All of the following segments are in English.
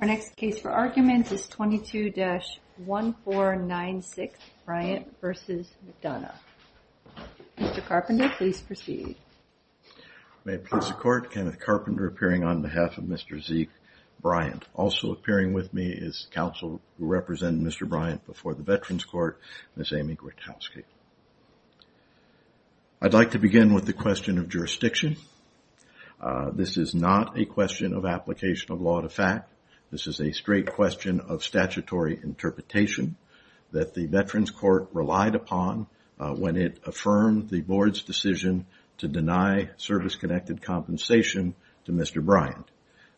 Our next case for argument is 22-1496 Bryant v. McDonough. Mr. Carpenter, please proceed. May it please the Court, Kenneth Carpenter appearing on behalf of Mr. Zeke Bryant. Also appearing with me is counsel who represented Mr. Bryant before the Veterans Court, Ms. Amy Gretowski. I'd like to begin with the question of jurisdiction. This is not a question of application of law to fact. This is a straight question of statutory interpretation that the Veterans Court relied upon when it affirmed the Board's decision to deny service-connected compensation to Mr. Bryant.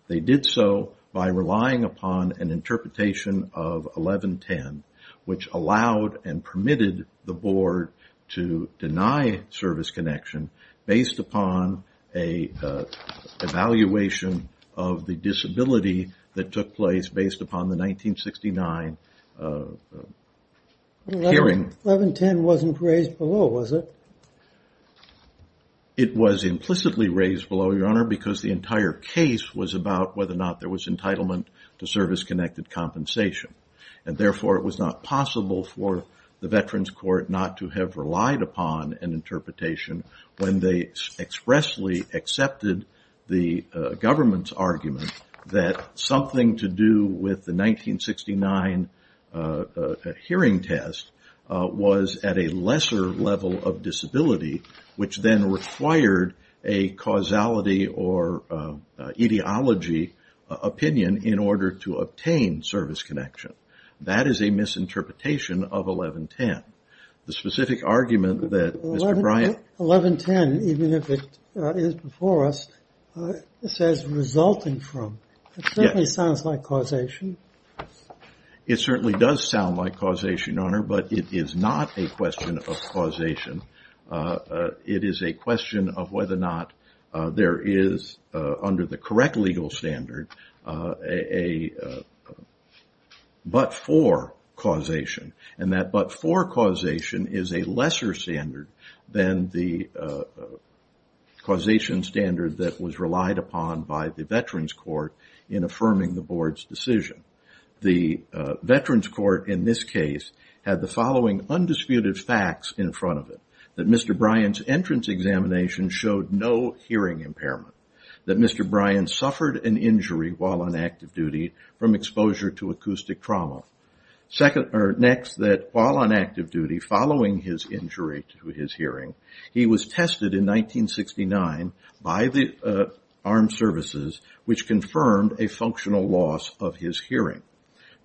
They did so by relying upon an interpretation of 1110, which allowed and permitted the Board to deny service connection based upon an evaluation of the disability that took place based upon the 1969 hearing. 1110 wasn't raised below, was it? It was implicitly raised below, Your Honor, because the entire case was about whether or not there was entitlement to service-connected compensation. Therefore, it was not possible for the Veterans Court not to have relied upon an interpretation when they expressly accepted the government's argument that something to do with the 1969 hearing test was at a lesser level of disability, which then required a causality or etiology opinion in order to obtain service connection. That is a misinterpretation of 1110. The specific argument that Mr. Bryant... 1110, even if it is before us, says resulting from. It certainly sounds like causation. It certainly does sound like causation, Your Honor, but it is not a question of causation. It is a question of whether or not there is, under the correct legal standard, a but-for causation, and that but-for causation is a lesser standard than the causation standard that was relied upon by the Veterans Court in affirming the Board's decision. The Veterans Court in this case had the following undisputed facts in front of it. That Mr. Bryant's entrance examination showed no hearing impairment. That Mr. Bryant suffered an injury while on active duty from exposure to acoustic trauma. Next, that while on active duty, following his injury to his hearing, he was tested in 1969 by the armed services, which confirmed a functional loss of his hearing.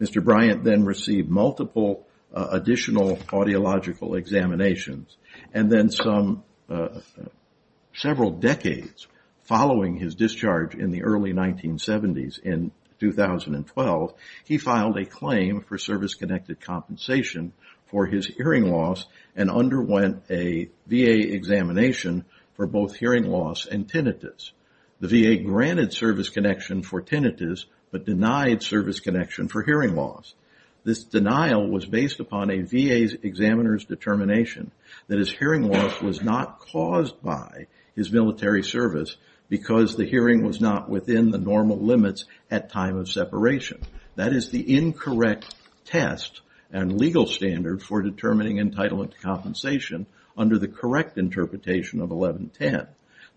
Mr. Bryant then received multiple additional audiological examinations, and then several decades following his discharge in the early 1970s, in 2012, he filed a claim for service-connected compensation for his hearing loss and underwent a VA examination for both hearing loss and tinnitus. The VA granted service connection for tinnitus but denied service connection for hearing loss. This denial was based upon a VA examiner's determination that his hearing loss was not caused by his military service because the hearing was not within the normal limits at time of separation. That is the incorrect test and legal standard for determining entitlement to compensation under the correct interpretation of 1110.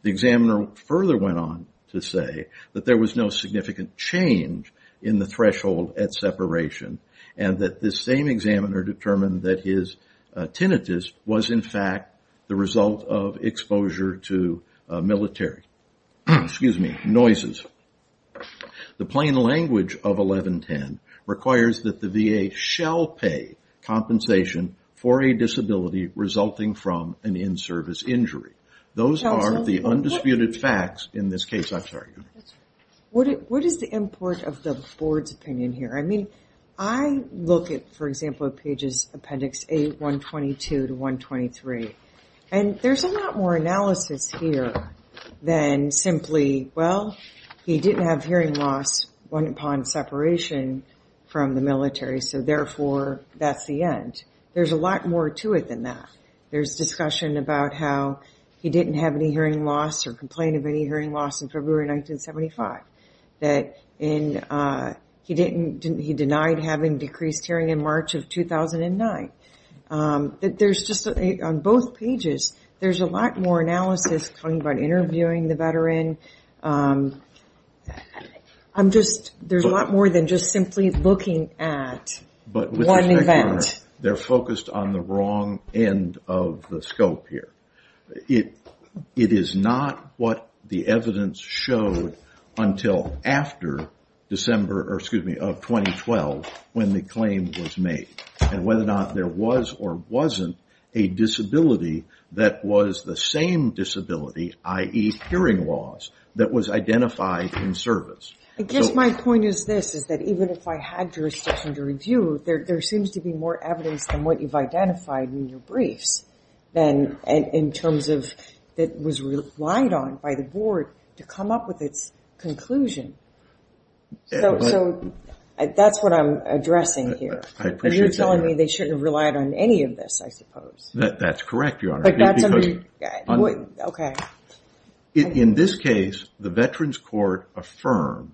The examiner further went on to say that there was no significant change in the threshold at separation and that this same examiner determined that his tinnitus was in fact the result of exposure to military, excuse me, noises. The plain language of 1110 requires that the VA shall pay compensation for a disability resulting from an in-service injury. Those are the undisputed facts in this case, I'm sorry. What is the import of the board's opinion here? I mean, I look at, for example, at pages appendix 8, 122 to 123, and there's a lot more analysis here than simply, well, he didn't have hearing loss upon separation from the military, so therefore that's the end. There's a lot more to it than that. There's discussion about how he didn't have any hearing loss or complain of any hearing loss in February 1975, that he denied having decreased hearing in March of 2009. There's just, on both pages, there's a lot more analysis coming about interviewing the veteran. I'm just, there's a lot more than just simply looking at one event. But with respect, Your Honor, they're focused on the wrong end of the scope here. It is not what the evidence showed until after December of 2012 when the claim was made and whether or not there was or wasn't a disability that was the same disability, i.e., hearing loss, that was identified in service. I guess my point is this, is that even if I had jurisdiction to review, there seems to be more evidence than what you've identified in your briefs, in terms of what was relied on by the board to come up with its conclusion. So that's what I'm addressing here. You're telling me they shouldn't have relied on any of this, I suppose. That's correct, Your Honor. Okay. In this case, the Veterans Court affirmed,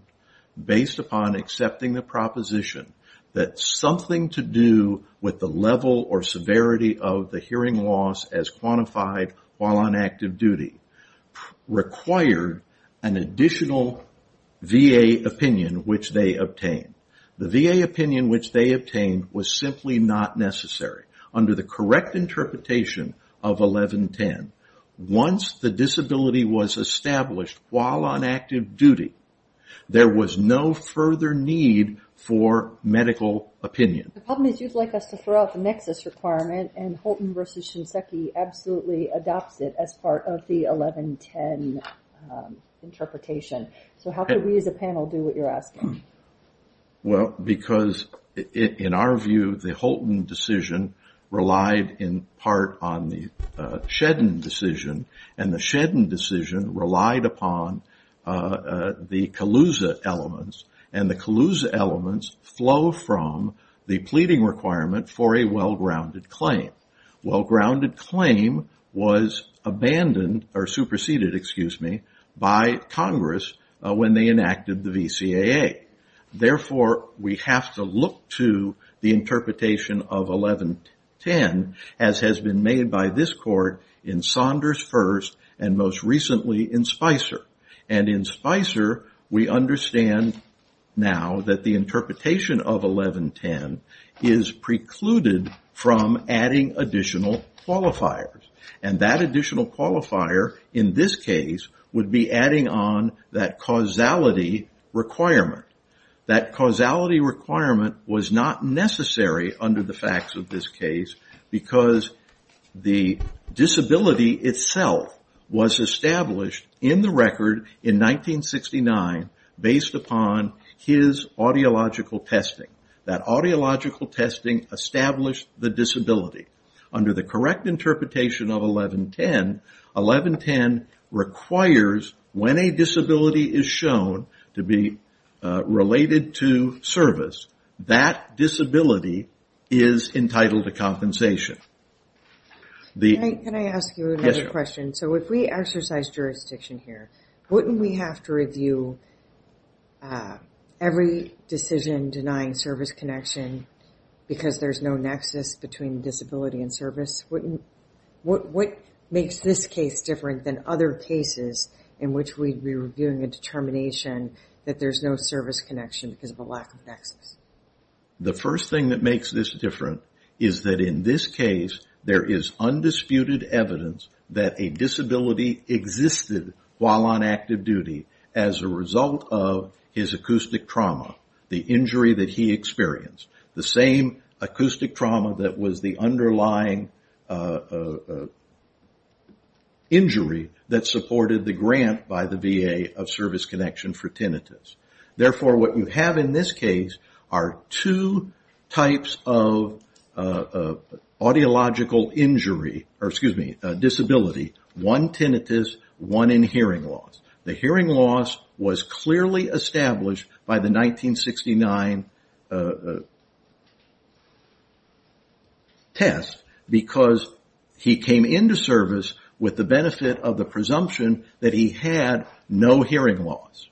based upon accepting the proposition, that something to do with the level or severity of the hearing loss as quantified while on active duty required an additional VA opinion which they obtained. The VA opinion which they obtained was simply not necessary. Under the correct interpretation of 1110, once the disability was established while on active duty, there was no further need for medical opinion. The problem is you'd like us to throw out the nexus requirement, and Holton v. Shinseki absolutely adopts it as part of the 1110 interpretation. So how could we as a panel do what you're asking? Well, because in our view, the Holton decision relied in part on the Shedden decision, and the Shedden decision relied upon the Calusa elements, and the Calusa elements flow from the pleading requirement for a well-grounded claim. Well-grounded claim was abandoned or superseded, excuse me, by Congress when they enacted the VCAA. Therefore, we have to look to the interpretation of 1110, as has been made by this Court in Saunders first and most recently in Spicer. And in Spicer, we understand now that the interpretation of 1110 is precluded from adding additional qualifiers. And that additional qualifier in this case would be adding on that causality requirement. That causality requirement was not necessary under the facts of this case, because the disability itself was established in the record in 1969, based upon his audiological testing. That audiological testing established the disability. Under the correct interpretation of 1110, 1110 requires when a disability is shown to be related to service, that disability is entitled to compensation. Can I ask you another question? Yes, ma'am. So if we exercise jurisdiction here, wouldn't we have to review every decision denying service connection because there's no nexus between disability and service? What makes this case different than other cases in which we'd be reviewing a determination that there's no service connection because of a lack of nexus? The first thing that makes this different is that in this case, there is undisputed evidence that a disability existed while on active duty as a result of his acoustic trauma, the injury that he experienced, the same acoustic trauma that was the underlying injury that supported the grant by the VA of service connection for tinnitus. Therefore, what you have in this case are two types of audiological injury, or excuse me, disability, one tinnitus, one in hearing loss. The hearing loss was clearly established by the 1969 test because he came into service with the benefit of the presumption that he had no hearing loss.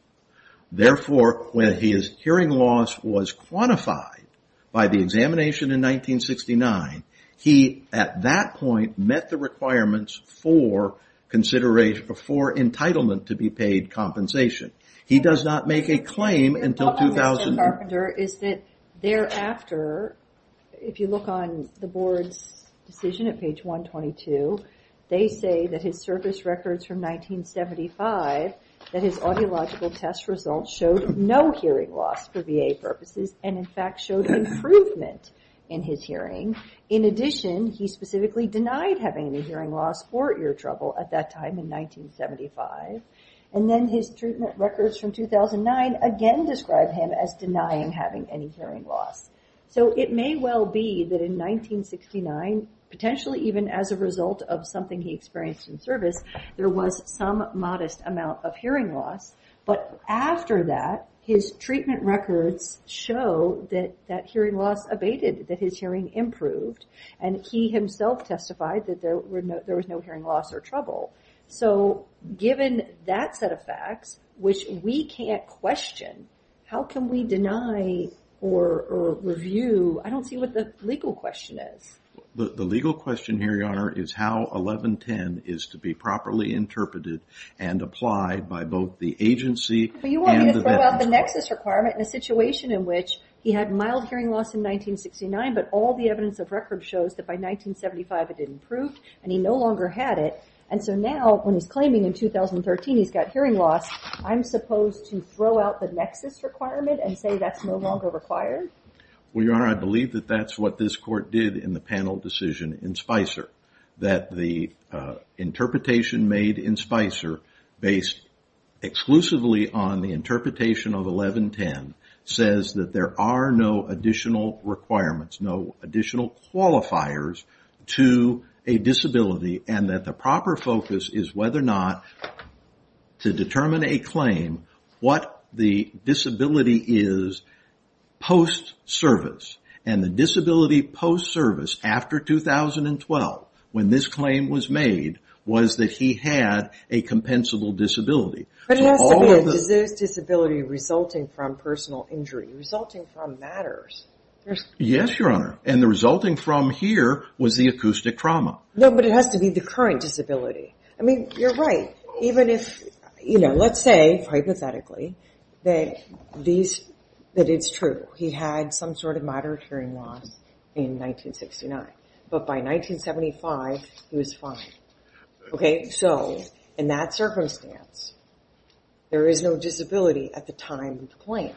Therefore, when his hearing loss was quantified by the examination in 1969, he at that point met the requirements for entitlement to be paid compensation. He does not make a claim until 2009. The problem with Carpenter is that thereafter, if you look on the board's decision at page 122, they say that his service records from 1975, that his audiological test results showed no hearing loss for VA purposes and in fact showed improvement in his hearing. In addition, he specifically denied having any hearing loss or ear trouble at that time in 1975. Then his treatment records from 2009 again describe him as denying having any hearing loss. It may well be that in 1969, potentially even as a result of something he experienced in service, there was some modest amount of hearing loss. After that, his treatment records show that hearing loss abated, that his hearing improved. He himself testified that there was no hearing loss or trouble. Given that set of facts, which we can't question, how can we deny or review? I don't see what the legal question is. The legal question here, Your Honor, is how 1110 is to be properly interpreted and applied by both the agency and the veteran. You want me to throw out the nexus requirement in a situation in which he had mild hearing loss in 1969, but all the evidence of record shows that by 1975 it improved and he no longer had it. Now, when he's claiming in 2013 he's got hearing loss, I'm supposed to throw out the nexus requirement and say that's no longer required? Your Honor, I believe that's what this Court did in the panel decision in Spicer. The interpretation made in Spicer based exclusively on the interpretation of 1110 says that there are no additional requirements, no additional qualifiers to a disability and that the proper focus is whether or not to determine a claim what the disability is post-service. And the disability post-service after 2012, when this claim was made, was that he had a compensable disability. But it has to be a disability resulting from personal injury, resulting from matters. Yes, Your Honor, and the resulting from here was the acoustic trauma. No, but it has to be the current disability. I mean, you're right, even if, you know, let's say hypothetically that it's true. He had some sort of moderate hearing loss in 1969, but by 1975 he was fine. Okay, so in that circumstance there is no disability at the time of the claim.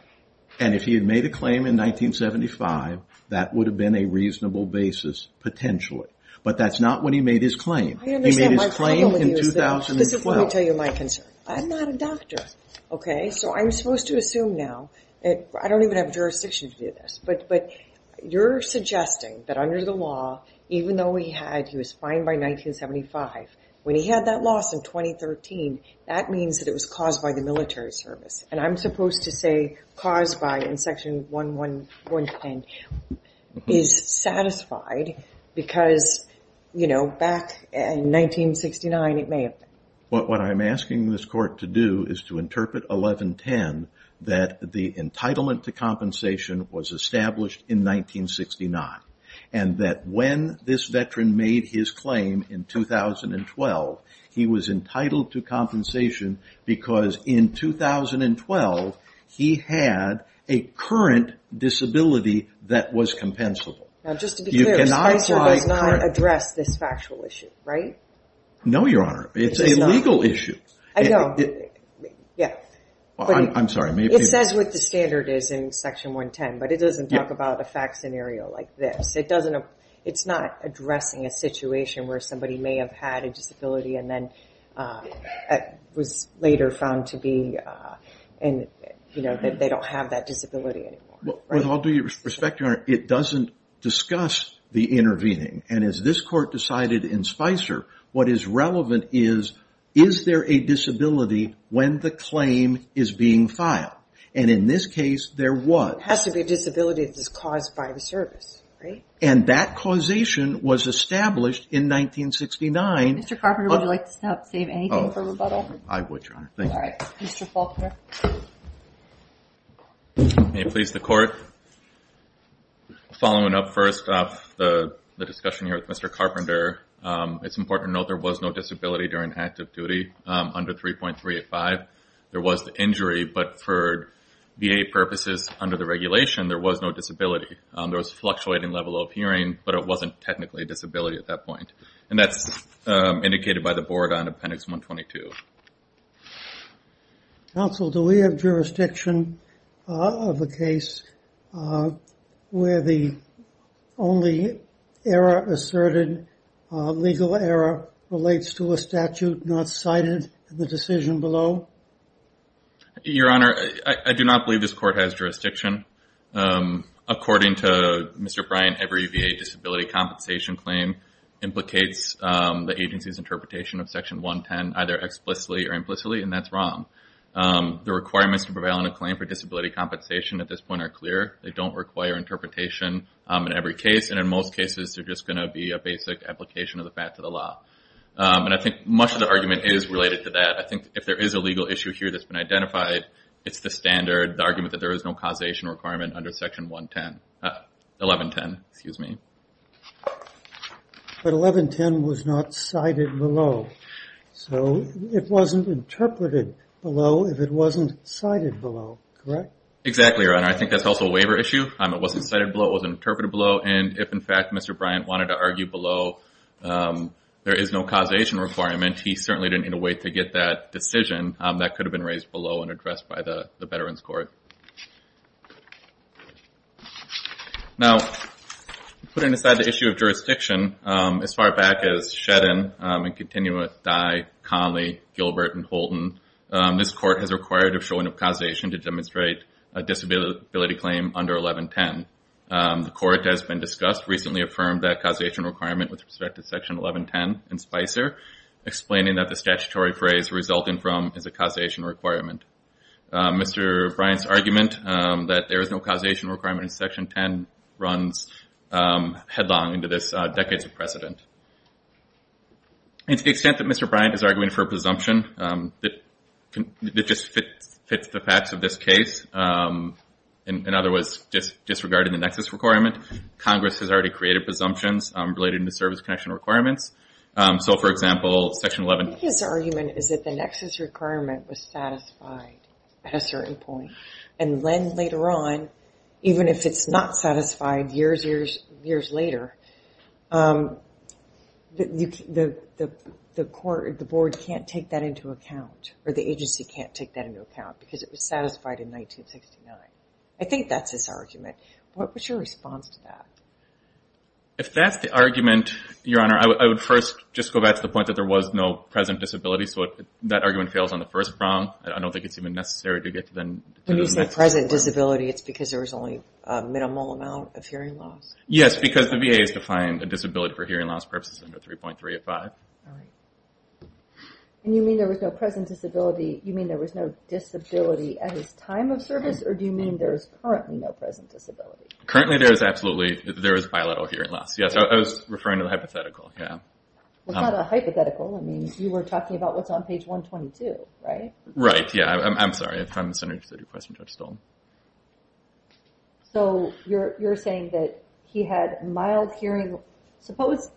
And if he had made a claim in 1975, that would have been a reasonable basis potentially. But that's not when he made his claim. He made his claim in 2012. Let me tell you my concern. I'm not a doctor, okay? So I'm supposed to assume now, I don't even have jurisdiction to do this, but you're suggesting that under the law, even though he was fine by 1975, when he had that loss in 2013, that means that it was caused by the military service. And I'm supposed to say caused by in Section 1110 is satisfied because, you know, back in 1969 it may have been. What I'm asking this Court to do is to interpret 1110 that the entitlement to compensation was established in 1969, and that when this veteran made his claim in 2012, he was entitled to compensation because in 2012 he had a current disability that was compensable. Now just to be clear, Spicer does not address this factual issue, right? No, Your Honor. It's a legal issue. I know. Yeah. I'm sorry. It says what the standard is in Section 110, but it doesn't talk about a fact scenario like this. It's not addressing a situation where somebody may have had a disability and then was later found to be, you know, they don't have that disability anymore. With all due respect, Your Honor, it doesn't discuss the intervening. And as this Court decided in Spicer, what is relevant is, is there a disability when the claim is being filed? And in this case there was. So it has to be a disability that is caused by the service, right? And that causation was established in 1969. Mr. Carpenter, would you like to stop, save anything for rebuttal? I would, Your Honor. Thank you. All right. Mr. Faulkner. May it please the Court, following up first off the discussion here with Mr. Carpenter, it's important to note there was no disability during active duty under 3.385. There was the injury, but for VA purposes under the regulation, there was no disability. There was fluctuating level of hearing, but it wasn't technically a disability at that point. And that's indicated by the board on Appendix 122. Counsel, do we have jurisdiction of a case where the only error asserted, legal error relates to a statute not cited in the decision below? Your Honor, I do not believe this Court has jurisdiction. According to Mr. Bryant, every VA disability compensation claim implicates the agency's interpretation of Section 110, either explicitly or implicitly, and that's wrong. The requirements to prevail on a claim for disability compensation at this point are clear. They don't require interpretation in every case, and in most cases they're just going to be a basic application of the fact of the law. And I think much of the argument is related to that. I think if there is a legal issue here that's been identified, it's the standard, the argument that there is no causation requirement under Section 110. But 1110 was not cited below. So it wasn't interpreted below if it wasn't cited below, correct? Exactly, Your Honor. I think that's also a waiver issue. It wasn't cited below. It wasn't interpreted below. And if, in fact, Mr. Bryant wanted to argue below there is no causation requirement, he certainly didn't need to wait to get that decision. That could have been raised below and addressed by the Veterans Court. Now, putting aside the issue of jurisdiction, as far back as Shedden, and continuing with Dye, Conley, Gilbert, and Holton, this court has required a showing of causation to demonstrate a disability claim under 1110. The court has been discussed, recently affirmed that causation requirement with respect to Section 1110 in Spicer, explaining that the statutory phrase resulting from is a causation requirement. Mr. Bryant's argument that there is no causation requirement in Section 10 runs headlong into this decades of precedent. And to the extent that Mr. Bryant is arguing for a presumption that just fits the facts of this case, in other words, disregarding the nexus requirement, Congress has already created presumptions related to service connection requirements. So, for example, Section 1110. His argument is that the nexus requirement was satisfied at a certain point, and then later on, even if it's not satisfied years, years, years later, the board can't take that into account, or the agency can't take that into account, because it was satisfied in 1969. I think that's his argument. What was your response to that? If that's the argument, Your Honor, I would first just go back to the point that there was no present disability, so that argument fails on the first prong. I don't think it's even necessary to get to the next prong. When you say present disability, it's because there was only a minimal amount of hearing loss? Yes, because the VA has defined a disability for hearing loss purposes under 3.385. All right. And you mean there was no present disability, you mean there was no disability at his time of service, or do you mean there is currently no present disability? Currently, there is absolutely, there is bilateral hearing loss, yes. I was referring to the hypothetical, yeah. It's not a hypothetical. I mean, you were talking about what's on page 122, right? Right, yeah. I'm sorry. I thought I misunderstood your question, Judge Stolz. So you're saying that he had mild hearing. Suppose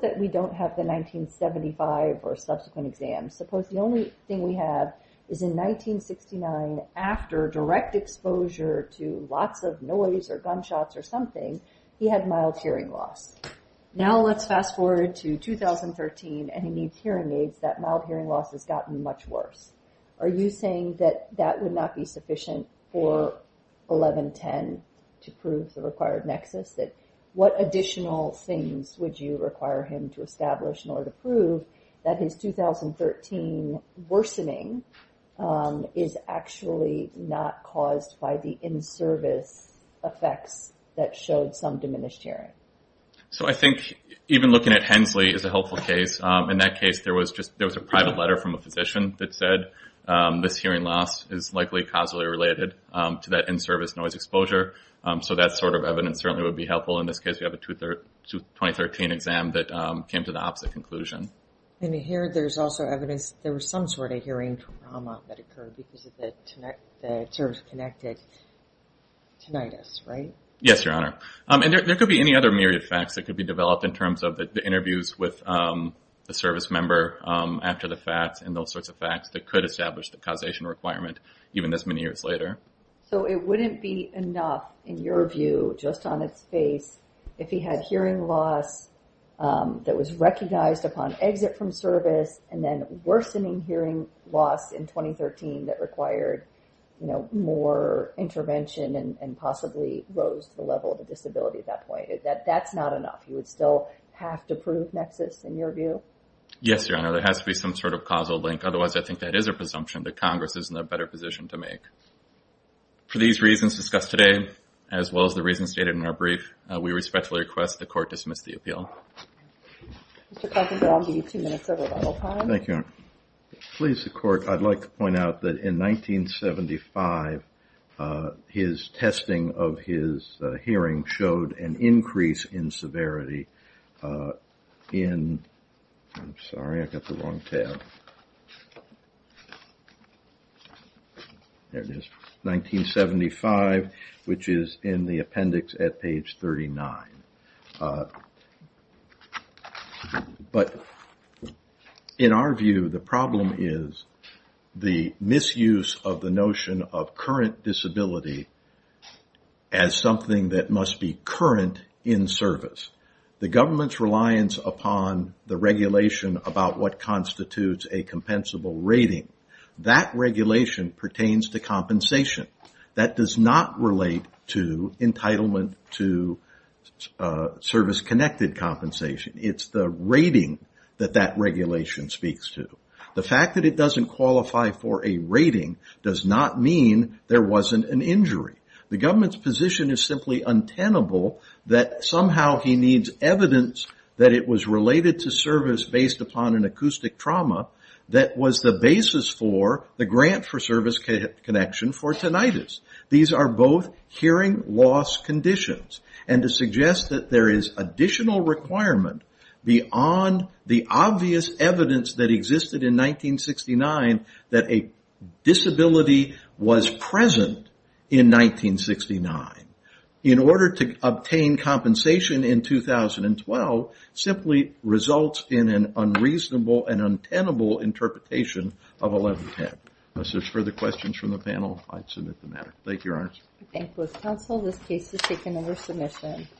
that we don't have the 1975 or subsequent exams. Suppose the only thing we have is in 1969, after direct exposure to lots of noise or gunshots or something, he had mild hearing loss. Now let's fast forward to 2013, and he needs hearing aids. That mild hearing loss has gotten much worse. Are you saying that that would not be sufficient for 1110 to prove the required nexus, that what additional things would you require him to establish in order to prove that his 2013 worsening is actually not caused by the in-service effects that showed some diminished hearing? So I think even looking at Hensley is a helpful case. In that case, there was a private letter from a physician that said, this hearing loss is likely causally related to that in-service noise exposure. So that sort of evidence certainly would be helpful. In this case, we have a 2013 exam that came to the opposite conclusion. And here there's also evidence there was some sort of hearing trauma that occurred because of the service-connected tinnitus, right? Yes, Your Honor. And there could be any other myriad of facts that could be developed in terms of the interviews with the service member after the facts and those sorts of facts that could establish the causation requirement even this many years later. So it wouldn't be enough, in your view, just on its face, if he had hearing loss that was recognized upon exit from service and then worsening hearing loss in 2013 that required more intervention and possibly rose to the level of a disability at that point. That's not enough. You would still have to prove nexus, in your view? Yes, Your Honor. There has to be some sort of causal link. Otherwise, I think that is a presumption that Congress is in a better position to make. For these reasons discussed today, as well as the reasons stated in our brief, we respectfully request the Court dismiss the appeal. Mr. Carpenter, I'll give you two minutes of rebuttal time. Thank you, Your Honor. Please, the Court, I'd like to point out that in 1975 his testing of his hearing showed an increase in severity in 1975, which is in the appendix at page 39. But in our view, the problem is the misuse of the notion of current disability as something that must be current in service. The government's reliance upon the regulation about what constitutes a compensable rating, that regulation pertains to compensation. That does not relate to entitlement to service-connected compensation. It's the rating that that regulation speaks to. The fact that it doesn't qualify for a rating does not mean there wasn't an injury. The government's position is simply untenable that somehow he needs evidence that it was related to service based upon an acoustic trauma that was the basis for the grant for service connection for tinnitus. These are both hearing loss conditions. And to suggest that there is additional requirement beyond the obvious evidence that existed in 1969 that a disability was present in 1969, in order to obtain compensation in 2012, simply results in an unreasonable and untenable interpretation of 1110. Unless there's further questions from the panel, I'd submit the matter. Thank you, Your Honor. Thank you, counsel. This case is taken under submission.